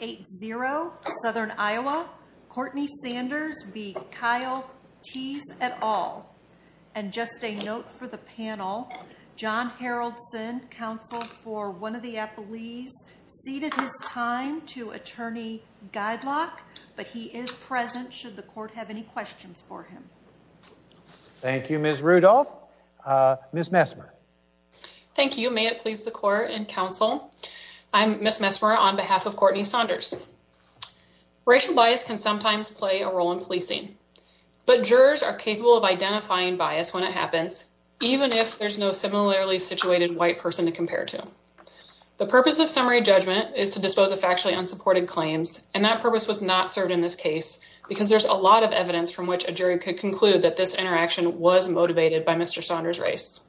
8-0 Southern Iowa. Courtney Sanders v. Kyle Thies et al. And just a note for the panel, John Haraldson, counsel for one of the appellees, ceded his time to attorney Guidelock, but he is present should the court have any questions for him. Thank you, Ms. Rudolph. Ms. Messmer. Thank you. May it please the court and Mr. Saunders. Racial bias can sometimes play a role in policing, but jurors are capable of identifying bias when it happens, even if there's no similarly situated white person to compare to. The purpose of summary judgment is to dispose of factually unsupported claims, and that purpose was not served in this case because there's a lot of evidence from which a jury could conclude that this interaction was motivated by Mr. Saunders' race.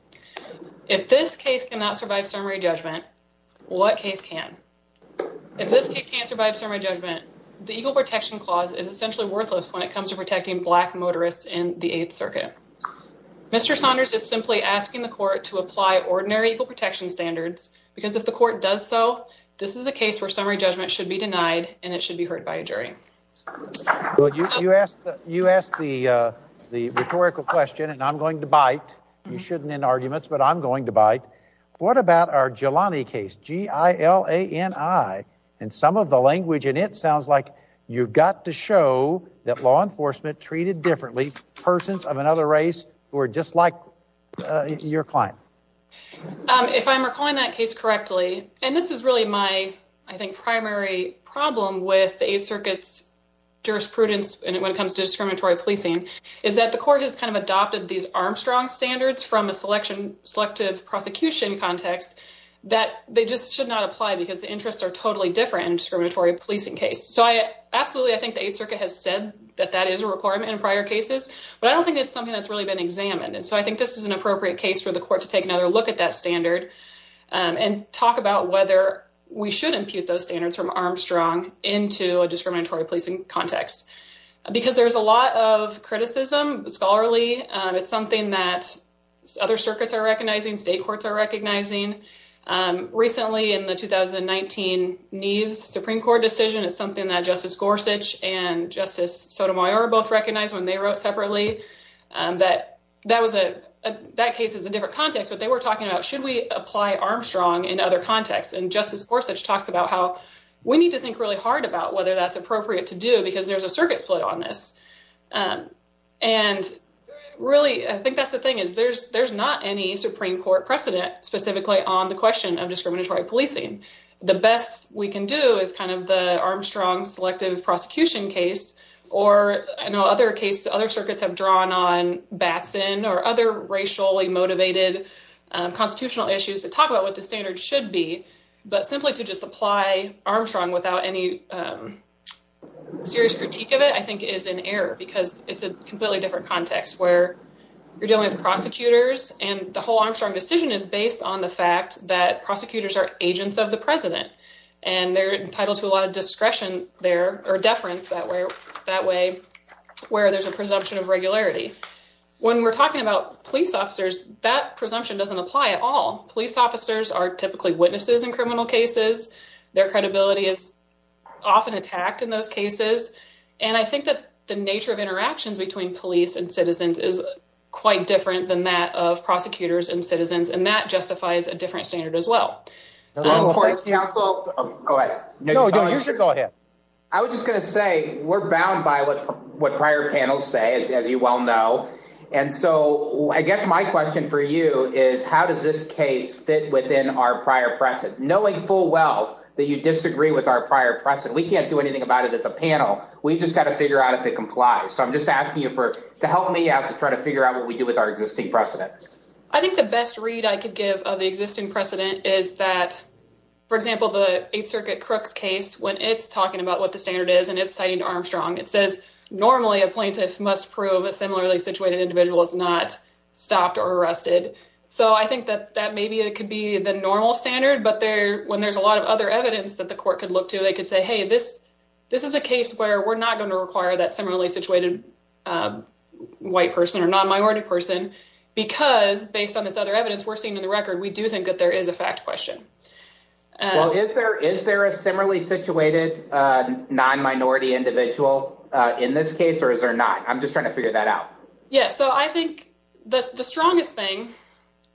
If this case cannot survive summary judgment, what case can? If this case can't survive summary judgment, the Equal Protection Clause is essentially worthless when it comes to protecting black motorists in the 8th Circuit. Mr. Saunders is simply asking the court to apply ordinary equal protection standards because if the court does so, this is a case where summary judgment should be denied and it should be heard by a jury. You asked the rhetorical question, and I'm going to bite. You shouldn't in arguments, but I'm going to bite. What about our Jelani case, G-I-L-A-N-I, and some of the language in it sounds like you've got to show that law enforcement treated differently persons of another race who are just like your client. If I'm recalling that case correctly, and this is really my, I think, primary problem with the 8th Circuit's jurisprudence when it comes to discriminatory policing, is that the court has adopted these Armstrong standards from a selective prosecution context that they just should not apply because the interests are totally different in a discriminatory policing case. I absolutely think the 8th Circuit has said that that is a requirement in prior cases, but I don't think that's something that's really been examined. I think this is an appropriate case for the court to take another look at that standard and talk about whether we should impute those standards from Armstrong into a discriminatory policing context because there's a lot of criticism, scholarly. It's something that other circuits are recognizing, state courts are recognizing. Recently, in the 2019 Neves Supreme Court decision, it's something that Justice Gorsuch and Justice Sotomayor both recognized when they wrote separately that that case is a different context, but they were talking about should we apply Armstrong in other contexts, and Justice Gorsuch talks about how we need to think really hard about whether that's appropriate to do because there's a circuit split on this. I think that's the thing. There's not any Supreme Court precedent specifically on the question of discriminatory policing. The best we can do is the Armstrong selective prosecution case. I know other circuits have drawn on Batson or other racially motivated constitutional issues to talk about what the standard should be, but simply to just apply Armstrong without any serious critique of it I think is an error because it's a completely different context where you're dealing with prosecutors, and the whole Armstrong decision is based on the fact that prosecutors are agents of the president, and they're entitled to a lot of discretion there or deference that way where there's a presumption of regularity. When we're talking about police officers, that presumption doesn't apply at all. Police officers are typically witnesses in criminal cases. Their credibility is often attacked in those cases, and I think that the nature of interactions between police and citizens is quite different than that of prosecutors and citizens, and that justifies a different standard as well. I was just going to say, we're bound by what prior panels say, as you well know, and so I guess my question for you is how does this case fit within our prior precedent? Knowing full well that you disagree with our prior precedent, we can't do anything about it as a panel. We've just got to figure out if it complies, so I'm just asking you to help me out to try to figure out what we do with our existing precedent. I think the best read I could give of the existing precedent is that, for example, the Eighth Circuit Crooks case, when it's talking about what the standard is and it's citing Armstrong, it says normally a plaintiff must prove a similarly situated individual is not stopped or arrested, so I think that maybe it could be the normal standard, but when there's a lot of other evidence that the court could look to, they could say, hey, this is a case where we're not going to require that similarly situated white person or non-minority person because, based on this other evidence we're seeing in the record, we do think that there is a fact question. Well, is there a similarly situated non-minority individual in this case or is there not? I'm just trying to figure that out. So I think the strongest thing,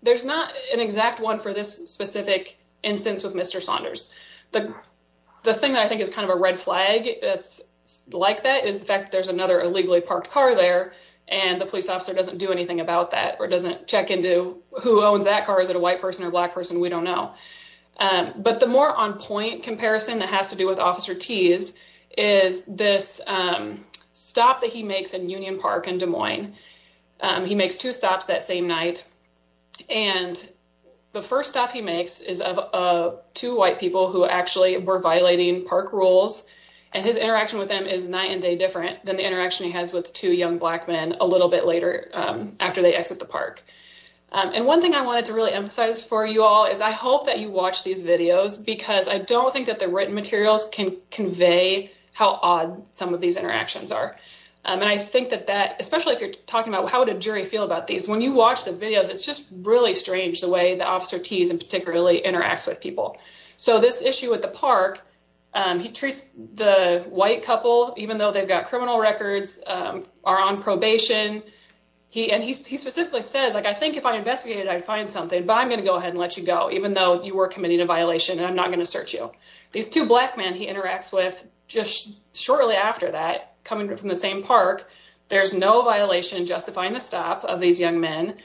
there's not an exact one for this specific instance with Mr. Saunders. The thing that I think is kind of a red flag that's like that is the fact that there's another illegally parked car there and the police officer doesn't do anything about that or doesn't check into who owns that car. Is it a white person or black person? We don't know, but the more on point comparison that has to do with Officer Tease is this stop that he makes in Union Park in Des He makes two stops that same night and the first stop he makes is of two white people who actually were violating park rules and his interaction with them is night and day different than the interaction he has with two young black men a little bit later after they exit the park. And one thing I wanted to really emphasize for you all is I hope that you watch these videos because I don't think that the written materials can convey how odd some of these interactions are. And I think that that, especially if you're talking about how would a jury feel about these, when you watch the videos, it's just really strange the way the Officer Tease in particularly interacts with people. So this issue with the park, he treats the white couple, even though they've got criminal records, are on probation. He specifically says, like, I think if I investigated, I'd find something, but I'm going to go ahead and let you go, even though you were committing a violation and I'm not going to search you. These two black men he interacts with just from the same park. There's no violation justifying the stop of these young men.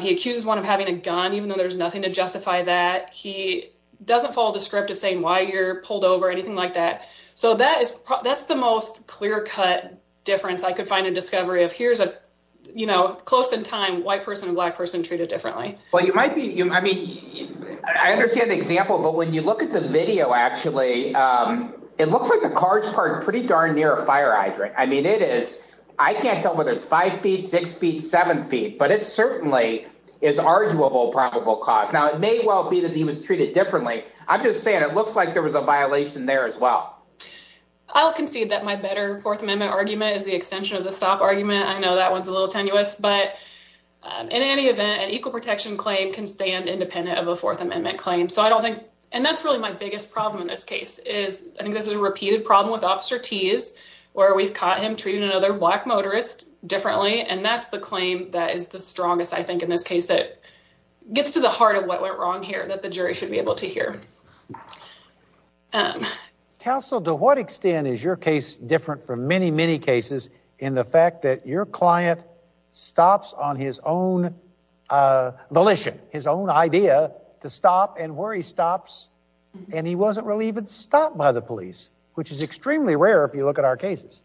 He accuses one of having a gun, even though there's nothing to justify that. He doesn't follow the script of saying why you're pulled over or anything like that. So that's the most clear cut difference I could find a discovery of. Here's a, you know, close in time, white person and black person treated differently. Well, you might be, I mean, I understand the example, but when you look at the video, actually, it looks like the cars parked pretty darn near a fire hydrant. I mean, it is. I can't tell whether it's five feet, six feet, seven feet, but it certainly is arguable probable cause. Now, it may well be that he was treated differently. I'm just saying it looks like there was a violation there as well. I'll concede that my better Fourth Amendment argument is the extension of the stop argument. I know that one's a little tenuous, but in any event, an equal protection claim can stand independent of a Fourth Amendment claim. So I don't think, and that's really my biggest problem in this case is, I think this is a repeated problem with Officer Tease, where we've caught him treating another black motorist differently. And that's the claim that is the strongest, I think, in this case that gets to the heart of what went wrong here that the jury should be able to hear. Counsel, to what extent is your case different from many, many cases in the fact that your client stops on his own volition, his own idea to stop, and where he stops, and he wasn't really even stopped by the police, which is extremely rare if you look at our cases.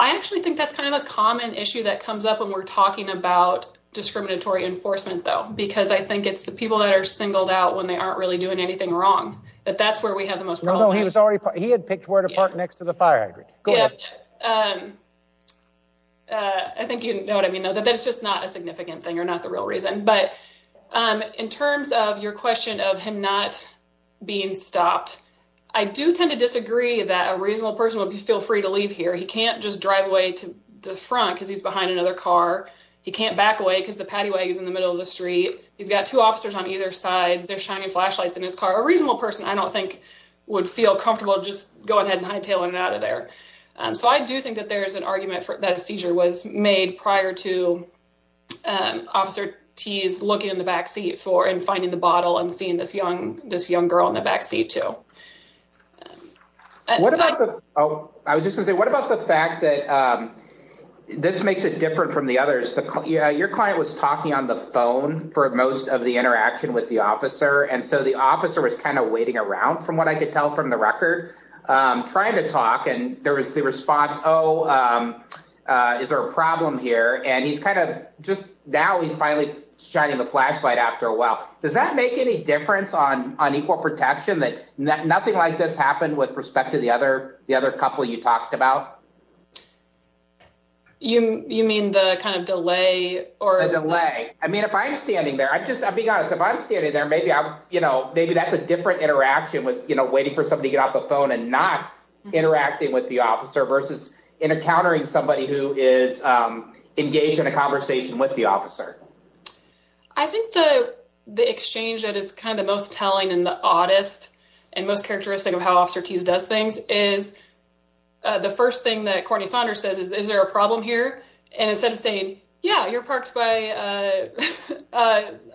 I actually think that's kind of a common issue that comes up when we're talking about discriminatory enforcement, though, because I think it's the people that are singled out when they aren't really doing anything wrong, that that's where we have the most problem. No, he was already, he had picked where to park next to the fire hydrant. I think you know what I mean, though, that that's just not a significant thing, or not the real reason. But in terms of your question of him not being stopped, I do tend to disagree that a reasonable person would feel free to leave here. He can't just drive away to the front because he's behind another car. He can't back away because the pattywag is in the middle of the street. He's got two officers on either side. There's shining flashlights in his car. A reasonable person, I don't think, would feel comfortable just going ahead and hightailing it out of there. So I do think that there's an argument that a seizure was made prior to Officer T's looking in the back seat and finding the bottle and seeing this young girl in the back seat, too. I was just gonna say, what about the fact that this makes it different from the others? Your client was talking on the phone for most of the interaction with the officer, and so the officer was kind of waiting around, from what I could tell from the record, trying to talk, and there was the response, oh, is there a problem here? And he's kind of, just now he's finally shining the flashlight after a while. Does that make any difference on equal protection, that nothing like this happened with respect to the other couple you talked about? You mean the kind of delay? The delay. I mean, if I'm standing there, I'm just, I'm being honest, if I'm standing there, maybe that's a different interaction with waiting for somebody to get off the phone and not interacting with the officer versus encountering somebody who is engaged in a conversation with the officer. I think the exchange that is kind of the most telling and the oddest and most characteristic of how Officer T's does things is, the first thing that Courtney Saunders says is, is there a problem here? And instead of saying, yeah, you're parked by a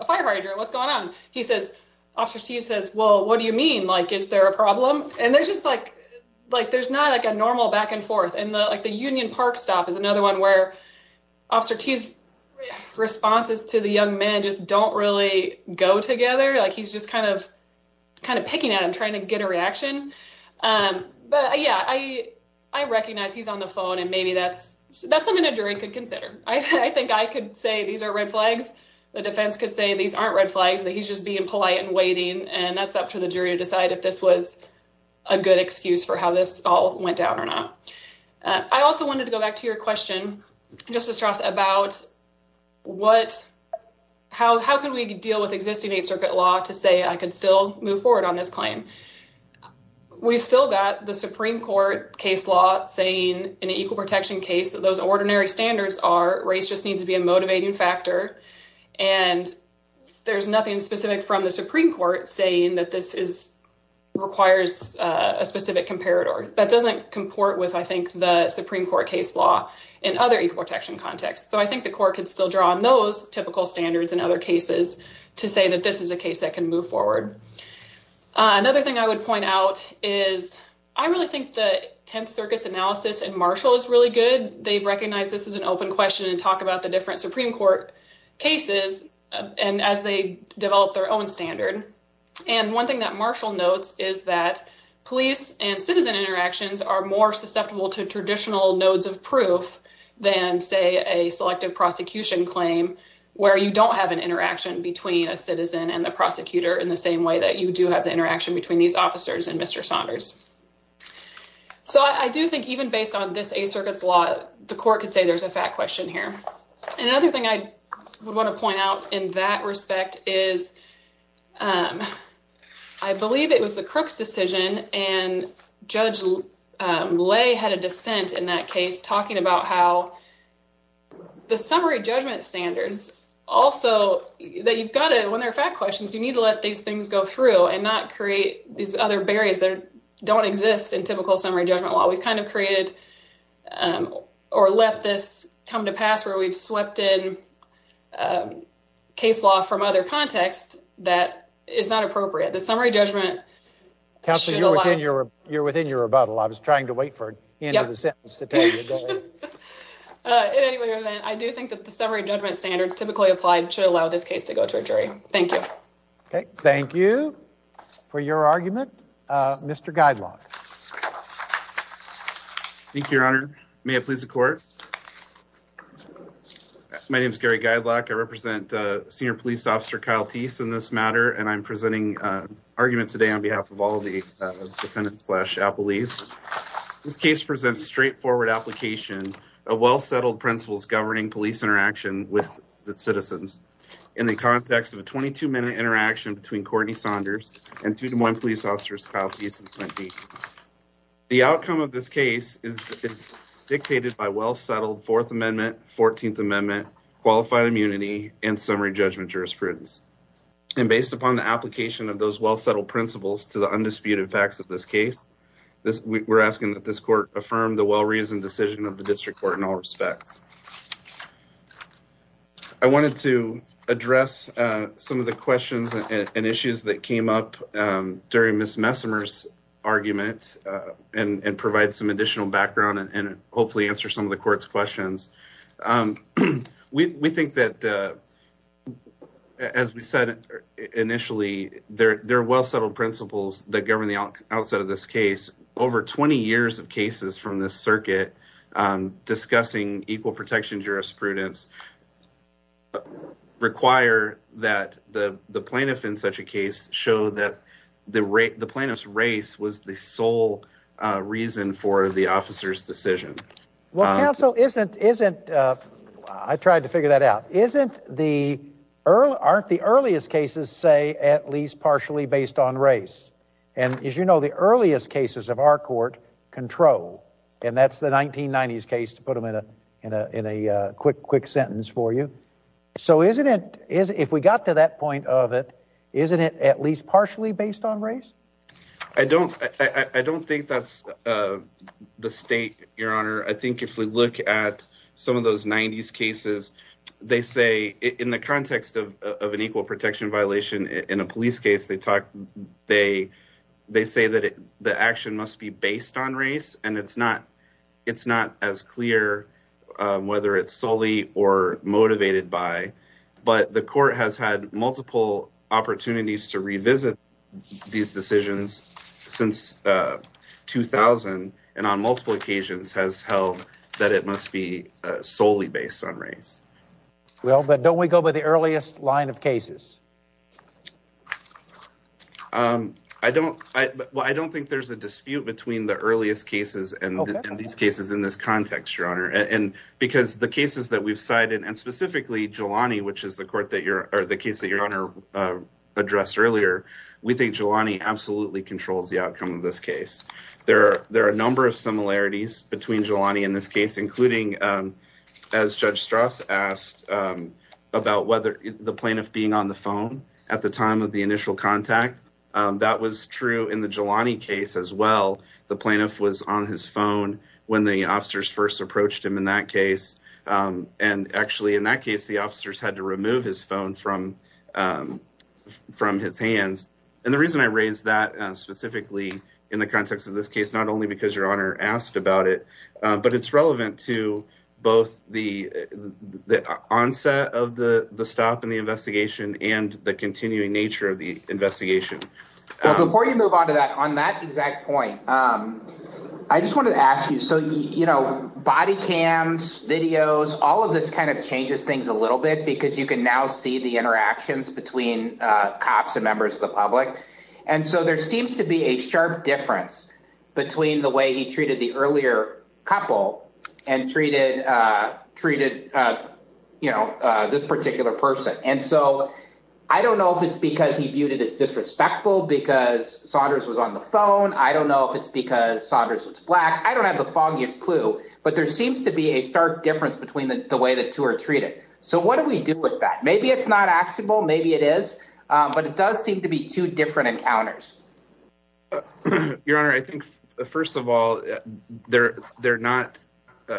firefighter, what's going on? He says, Officer T says, well, what do you mean? Like, is there a problem? And there's just like, like, there's not like a normal back and forth. And like the Union Park stop is another one where Officer T's responses to the young man just don't really go together. Like, he's just kind of, kind of picking at him, trying to get a reaction. But yeah, I recognize he's on the phone and maybe that's something a jury could consider. I think I could say these are red flags. The defense could say these aren't red flags, that he's just being polite and waiting. And that's up to the jury to decide if this was a good excuse for how this all went down or not. I also wanted to go back to your question, Justice Ross, about how can we deal with existing Eighth Circuit law to say I could still move forward on this claim? We've still got the Supreme Court case law saying in an equal protection case that those ordinary standards are race just needs to be a motivating factor. And there's nothing specific from the Supreme Court saying that this requires a specific comparator. That doesn't comport with, I think, the Supreme Court case law in other equal protection contexts. So I think the court could still draw on those typical standards in other cases to say that this is a case that can move forward. Another thing I would point out is I really think the Tenth Circuit's analysis in Marshall is really good. They recognize this as an open question and talk about the different Supreme Court cases and as they develop their own standard. And one thing that Marshall notes is that police and citizen interactions are more susceptible to traditional nodes of proof than, say, a selective prosecution claim where you don't have an interaction between a citizen and the prosecutor in the same way that you do have the interaction between these officers and Mr. Saunders. So I do think even based on this Eighth Circuit's law, the court could say there's a fact question here. And another thing I would want to point out in that respect is I believe it was the Crooks decision and Judge Lay had a dissent in that case talking about how the summary judgment standards also that you've got to, when there are fact questions, you need to let these things go through and not create these other barriers that don't exist in typical summary judgment law. We've kind of created or let this come to pass where we've swept in case law from other contexts that is not appropriate. The summary judgment should allow... Counselor, you're within your rebuttal. I was trying to wait for the end of the sentence to tell you. Anyway, I do think that the summary judgment standards typically applied should allow this case to go to a jury. Thank you. Okay. Thank you for your argument. Mr. Guidelock. Thank you, Your Honor. May it please the court. My name is Gary Guidelock. I represent Senior Police Officer Kyle Teese in this matter, and I'm presenting an argument today on behalf of all the defendants slash appellees. This case presents straightforward application of well-settled principles governing police interaction with the citizens in the context of a 22-minute interaction between Courtney Saunders and two Des Moines police officers, Kyle Teese and Clint Deacon. The outcome of this case is dictated by well-settled Fourth Amendment, Fourteenth Amendment, qualified immunity, and summary judgment jurisprudence. And based upon the application of those well-settled principles to the undisputed facts of this case, we're asking that this court affirm the well-reasoned decision of the district court in all respects. I wanted to address some of the questions and issues that came up during Ms. Messimer's argument and provide some additional background and hopefully answer some of the court's questions. We think that, as we said initially, there are well-settled principles that govern the outset of this case. Over 20 years of cases from this circuit discussing equal protection jurisprudence require that the plaintiff in such a case show that the plaintiff's race was the sole reason for the officer's decision. Well, counsel, isn't, isn't, I tried to figure that out, isn't the, aren't the earliest cases, say, at least partially based on race? And as you know, the earliest cases of our court control, and that's the 1990s case to put in a quick, quick sentence for you. So isn't it, if we got to that point of it, isn't it at least partially based on race? I don't, I don't think that's the state, your honor. I think if we look at some of those 90s cases, they say in the context of an equal protection violation in a police case, they talk, they, they say that the action must be based on whether it's solely or motivated by, but the court has had multiple opportunities to revisit these decisions since 2000. And on multiple occasions has held that it must be solely based on race. Well, but don't we go by the earliest line of cases? Um, I don't, I, well, I don't think there's a dispute between the earliest cases and these cases in this context, your honor. And because the cases that we've cited and specifically Jelani, which is the court that you're, or the case that your honor, uh, addressed earlier, we think Jelani absolutely controls the outcome of this case. There are, there are a number of similarities between Jelani in this case, including, um, as judge Strauss asked, um, about whether the plaintiff being on the phone at the time of the initial contact, um, that was in the Jelani case as well. The plaintiff was on his phone when the officers first approached him in that case. Um, and actually in that case, the officers had to remove his phone from, um, from his hands. And the reason I raised that specifically in the context of this case, not only because your honor asked about it, uh, but it's relevant to both the, the onset of the, the stop in the investigation and the continuing nature of the investigation. Before you move on to that, on that exact point, um, I just wanted to ask you, so, you know, body cams, videos, all of this kind of changes things a little bit because you can now see the interactions between, uh, cops and members of the public. And so there seems to be a sharp difference between the way he treated the earlier couple and treated, uh, treated, uh, you know, uh, this particular person. And so I don't know if it's because he viewed it as disrespectful because Saunders was on the phone. I don't know if it's because Saunders was black. I don't have the foggiest clue, but there seems to be a stark difference between the way that two are treated. So what do we do with that? Maybe it's not actionable. Maybe it is, um, but it does seem to be two different encounters. Your honor. I think first of all, they're, they're not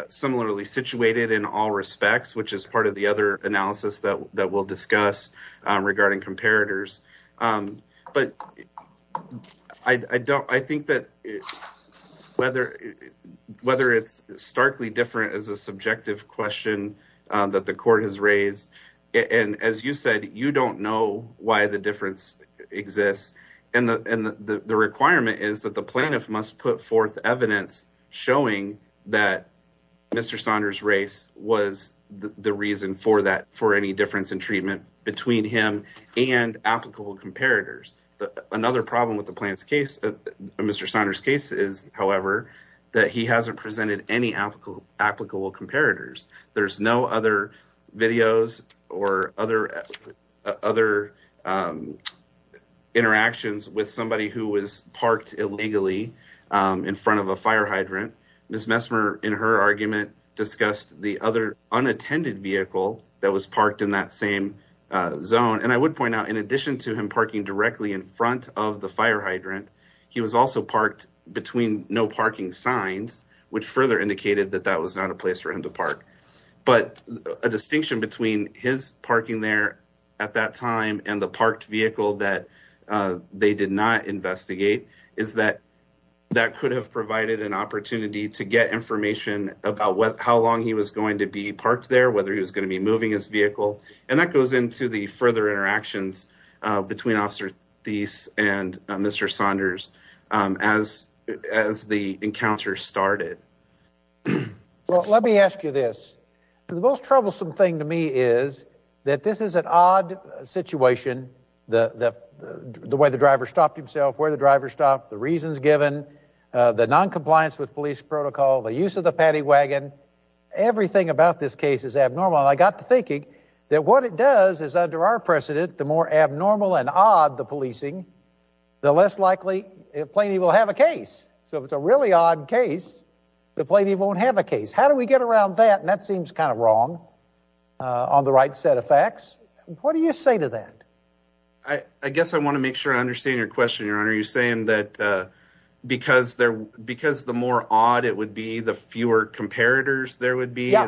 similarly situated in all respects, which is part of the other analysis that we'll discuss, um, regarding comparators. Um, but I don't, I think that whether, whether it's starkly different as a subjective question, um, that the court has raised. And as you said, you don't know why the difference exists and the, and the, the requirement is that the plaintiff must put forth evidence showing that Mr. Saunders race was the reason for that, for any difference in treatment between him and applicable comparators. Another problem with the plant's case, Mr. Saunders case is however, that he hasn't presented any applicable, applicable comparators. There's no other videos or other, other, um, interactions with somebody who was parked illegally, um, in front of a fire hydrant. Ms. Messmer in her argument discussed the other unattended vehicle that was parked in that same zone. And I would point out in addition to him parking directly in front of the fire hydrant, he was also parked between no parking signs, which further indicated that that was not a place for him to park, but a distinction between his parking there at that time. And the parked vehicle that, uh, they did not investigate is that that could have provided an opportunity to get information about what, how long he was going to be parked there, whether he was going to be moving his vehicle. And that goes into the further interactions between officer these and Mr. Saunders, um, as, as the encounter started. Well, let me ask you this. The most troublesome thing to me is that this is an odd situation. The, the, the way the driver stopped himself, where the driver stopped, the reasons given, uh, the noncompliance with police protocol, the use of the paddy wagon, everything about this case is abnormal. And I got to thinking that what it does is under our precedent, the more abnormal and odd the policing, the less likely it plainly will have a case. So if it's a really odd case, the plaintiff won't have a case. How do we get around that? And that seems kind of wrong, uh, on the right set of facts. What do you say to that? I, I guess I want to make sure I understand your question, your honor. You're saying that, uh, because they're, because the more odd it would be, the fewer comparators there would be. Yeah.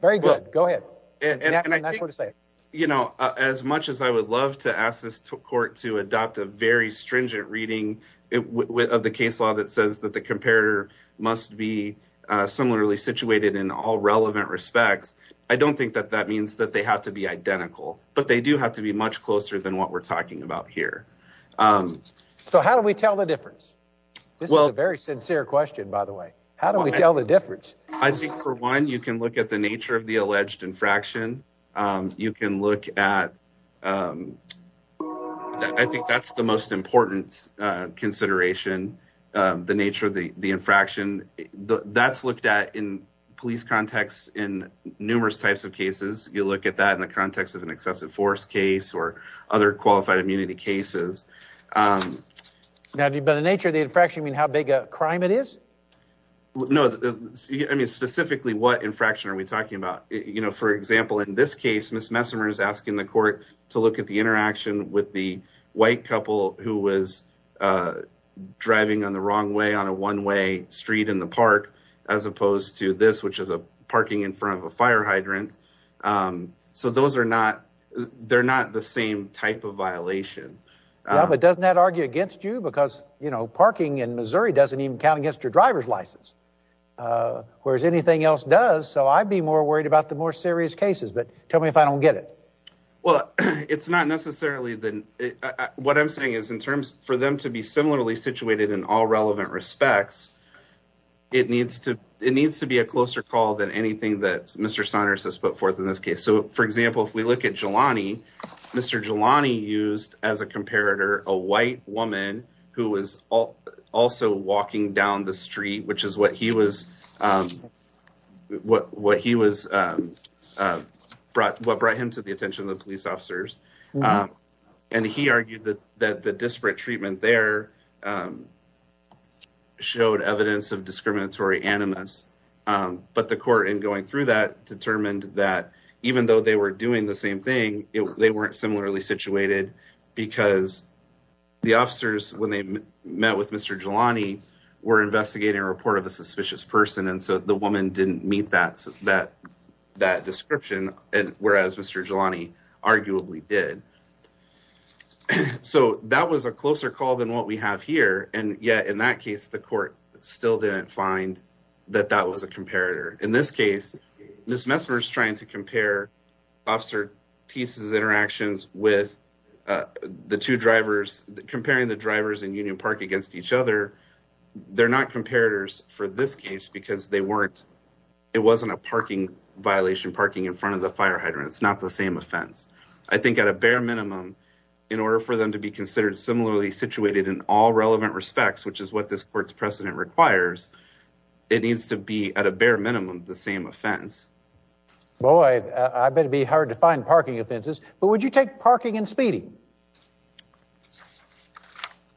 Very good. Go ahead. And I think, you know, as much as I would love to ask this court to adopt a very stringent reading of the case law that says that the comparator must be, uh, similarly situated in all relevant respects. I don't think that that means that they have to be identical, but they do have to be much closer than what we're talking about here. Um, so how do we tell the difference? This is a very sincere question, by the way, how do we tell the difference? I think for one, you can look at the nature of the alleged infraction. Um, you can look at, um, I think that's the most important, uh, consideration, um, the nature of the, the infraction that's looked at in police contexts in numerous types of cases. You look at that in the context of an excessive force case or other qualified immunity cases. Um, now by the nature of the infraction, I mean, how big a crime it is. No, I mean, specifically what infraction are we talking about? You know, for example, in this case, Ms. Messimer is asking the court to look at the interaction with the white couple who was, uh, driving on the wrong way on a one way street in the park, as opposed to this, which is a parking in front of a fire hydrant. Um, so those are not, they're not the same type of violation, but doesn't that argue against you because, you know, parking in Missouri doesn't even count against your driver's license. Uh, whereas anything else does. So I'd be more worried about the more serious cases, but tell me if I don't get it. Well, it's not necessarily the, what I'm saying is in terms for them to be similarly situated in all relevant respects, it needs to, it needs to be a closer call than anything that Mr. Saunders has put forth in this case. So for example, if we look at Jelani, Mr. Jelani used as a comparator, a white woman who was also walking down the street, which is what he was, um, what, what he was, um, uh, brought, what brought him to the attention of the police officers. Um, and he argued that the disparate treatment there, um, showed evidence of discriminatory animus. Um, but the court in through that determined that even though they were doing the same thing, they weren't similarly situated because the officers, when they met with Mr. Jelani were investigating a report of a suspicious person. And so the woman didn't meet that, that, that description. And whereas Mr. Jelani arguably did. So that was a closer call than what we have here. And yet in that case, the court still didn't find that that was a comparator. In this case, Ms. Messner is trying to compare Officer Teese's interactions with the two drivers, comparing the drivers in Union Park against each other. They're not comparators for this case because they weren't, it wasn't a parking violation, parking in front of the fire hydrant. It's not the same offense. I think at a bare minimum, in order for them to be considered similarly situated in all relevant respects, which is what this court's precedent requires, it needs to be at a bare minimum, the same offense. Boy, I better be hard to find parking offenses, but would you take parking and speeding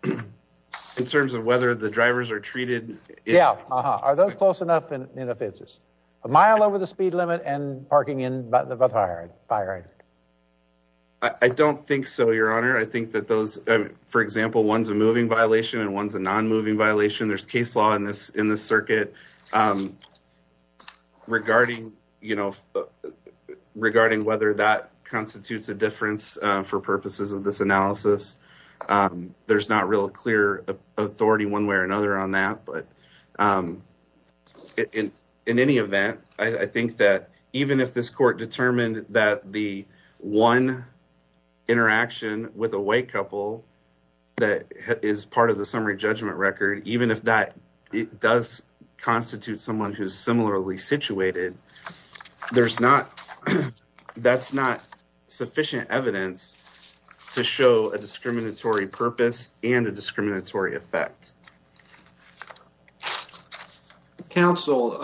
in terms of whether the drivers are treated? Yeah. Uh huh. Are those close enough in offenses a mile over the speed limit and parking in the fire fire? I don't think so. Your honor. I think for example, one's a moving violation and one's a non-moving violation. There's case law in this circuit regarding whether that constitutes a difference for purposes of this analysis. There's not real clear authority one way or another on that, but in any event, I think that even if this court determined that the one interaction with a white couple that is part of the summary judgment record, even if that does constitute someone who's similarly situated, that's not sufficient evidence to show a discriminatory purpose and a discriminatory effect. Counsel,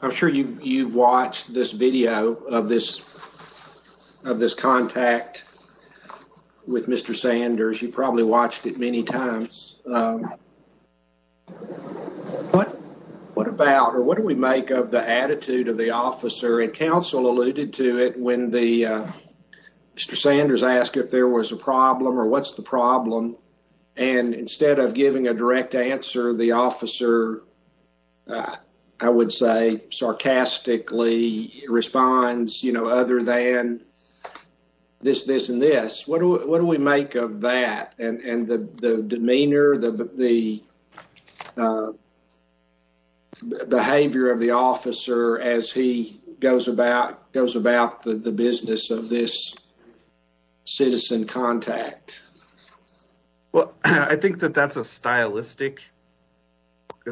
I'm sure you've watched this video of this contact with Mr. Sanders. You probably watched it many times. What about or what do we make of the attitude of the officer? And counsel alluded to it when Mr. Sanders asked if there was a problem or what's the problem, and instead of giving a direct answer, the officer, I would say, sarcastically responds, you know, other than this, this, and this. What do we make of that and the demeanor, the behavior of the officer as he goes about the business of this citizen contact? Well, I think that that's a stylistic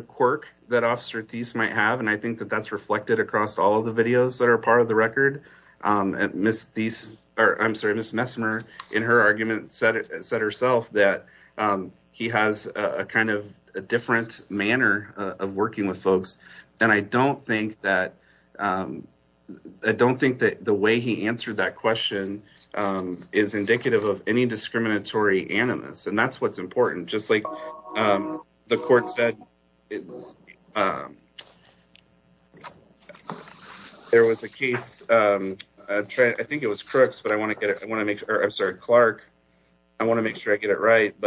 quirk that Officer Thies might have, and I think that that's reflected across all of the videos that are part of the record. Ms. Thies, I'm sorry, Ms. Messmer, in her argument, said herself that he has a kind of a different manner of working with folks, and I don't think that the way he answered that question is indicative of any discriminatory animus, and that's what's important. Just like the court said, there was a case, I think it was Crooks, but I want to make sure, I'm sorry, Clark, I want to make sure I get it right.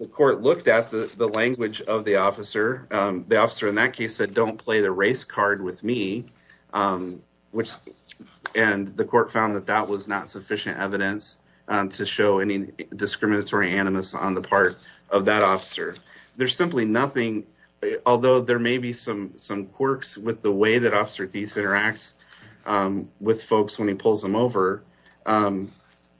The court looked at the language of the officer. The officer in that case said, don't play the race card with me, and the court found that that was not sufficient evidence to show any discriminatory animus on the part of that officer. There's simply nothing, although there may be some quirks with the way that Officer Thies interacts with folks when he pulls them over,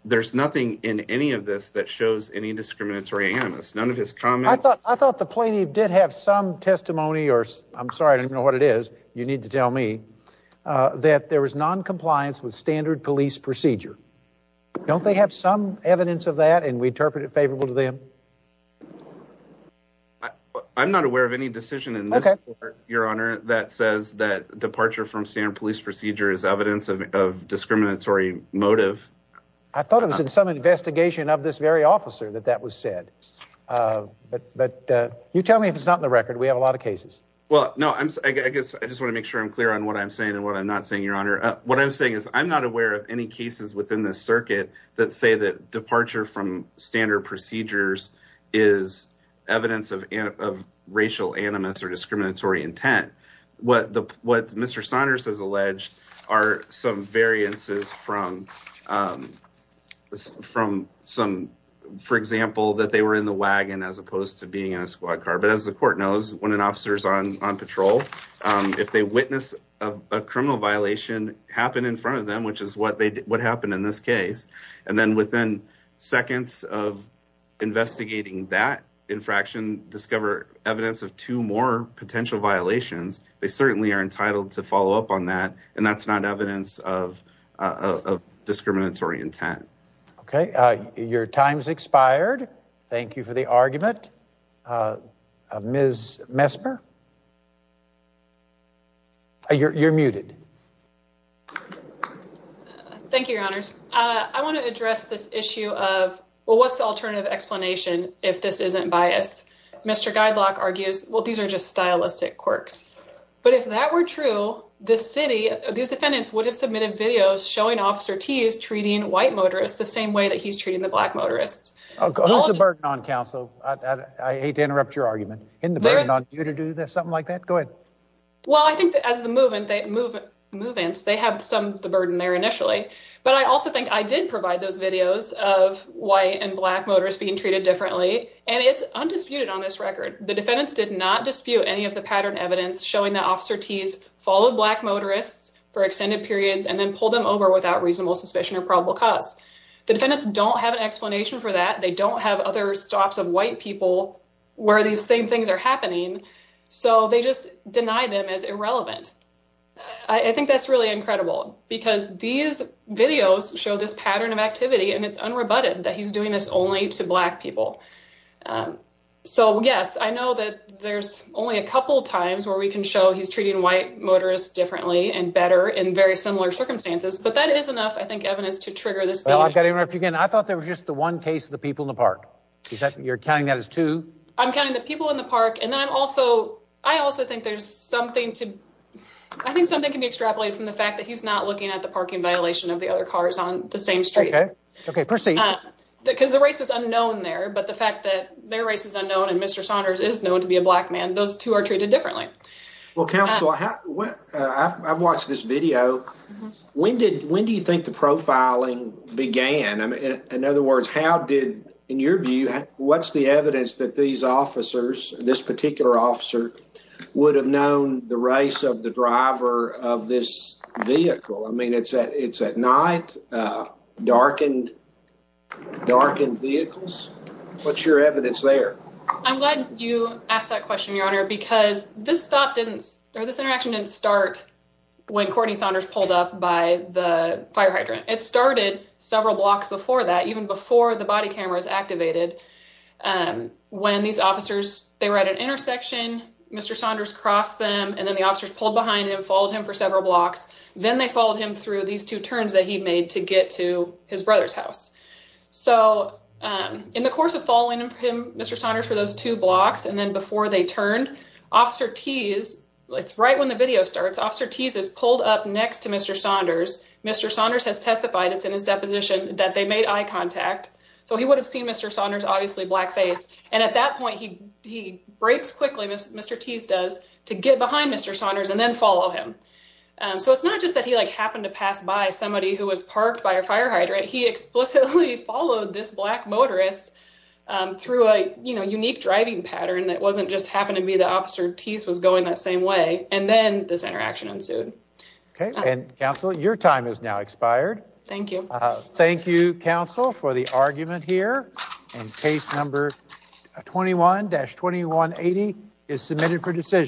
there's nothing in any of this that shows any discriminatory animus. None of his comments. I thought the plaintiff did have some testimony, or I'm sorry, I don't know what it is, you need to tell me, that there was non-compliance with standard police procedure. Don't they have some evidence of that, and we interpret it favorable to them? I'm not aware of any decision in this court, Your Honor, that says that departure from standard police procedure is evidence of discriminatory motive. I thought it was in some investigation of this very officer that that was said, but you tell me if it's not in the record, we have a lot of cases. Well, no, I guess I just want to make sure I'm clear on what I'm saying and what I'm not saying, Your Honor. What I'm saying is I'm not aware of any cases within this circuit that say that departure from standard procedures is evidence of racial animus or for example, that they were in the wagon as opposed to being in a squad car. But as the court knows, when an officer's on patrol, if they witness a criminal violation happen in front of them, which is what happened in this case, and then within seconds of investigating that infraction, discover evidence of two more potential violations, they certainly are entitled to follow up on that, and that's not evidence of discriminatory intent. Okay, your time's expired. Thank you for the argument. Ms. Mesper? You're muted. Thank you, Your Honors. I want to address this issue of, well, what's the alternative explanation if this isn't bias? Mr. Guidelock argues, well, these are just stylistic quirks. But if that were true, the city, these defendants would have submitted videos showing Officer T is treating white motorists the same way that he's treating the black motorists. Who's the burden on counsel? I hate to interrupt your argument. Isn't the burden on you to do something like that? Go ahead. Well, I think that as the move-ins, they have some of the burden there initially, but I also think I did provide those videos of white and black motorists being treated differently, and it's undisputed on this record. The defendants did not dispute any of the pattern evidence showing that Officer T's followed black motorists for extended periods and then pulled them over without reasonable suspicion or probable cause. The defendants don't have an explanation for that. They don't have other swaps of white people where these same things are happening, so they just deny them as irrelevant. I think that's really incredible because these videos show this pattern of activity and it's unrebutted that he's doing this only to black people. So yes, I know that there's only a couple times where we can show he's treating white motorists differently and better in very similar circumstances, but that is enough, I think, evidence to trigger this. Well, I've got to interrupt you again. I thought there was just the one case of the people in the park. Is that you're counting that as two? I'm counting the people in the park, and then I'm also, I also think there's something to, I think something can be extrapolated from the fact that he's not looking at the parking violation of the other cars on the same street. Okay, okay, proceed. Because the race was unknown there, but the fact that their race is unknown and Mr. Saunders is known to be a black man, those two are treated differently. Well, counsel, I've watched this video. When did, when do you think the profiling began? I mean, in other words, how did, in your view, what's the evidence that these officers, this particular officer, would have known the race of the driver of this vehicle? I mean, it's at night, darkened vehicles. What's your evidence there? I'm glad you asked that question, your honor, because this stop didn't, or this interaction didn't start when Courtney Saunders pulled up by the fire hydrant. It started several blocks before that, even before the body camera was activated. When these officers, they were at an intersection, Mr. Saunders crossed them, and then the officers pulled behind him, followed him for several blocks. Then they followed him through these two turns that he made to get to his brother's house. So, in the course of following him, Mr. Saunders, for those two blocks, and then before they turned, Officer Tease, it's right when the video starts, Officer Tease is pulled up next to Mr. Saunders. Mr. Saunders has testified, it's in his deposition, that they made eye contact. So he would have seen Mr. Saunders' obviously black face, and at that point, he breaks quickly, as Mr. Tease does, to get behind Mr. Saunders and then follow him. So it's not just that he like happened to pass by somebody who was parked by a fire hydrant. He explicitly followed this black motorist through a, you know, unique driving pattern that wasn't just happened to be the officer Tease was going that same way, and then this interaction ensued. Okay, and counsel, your time is now expired. Thank you. Thank you, counsel, for the argument here, and case number 21-2180 is submitted for decision.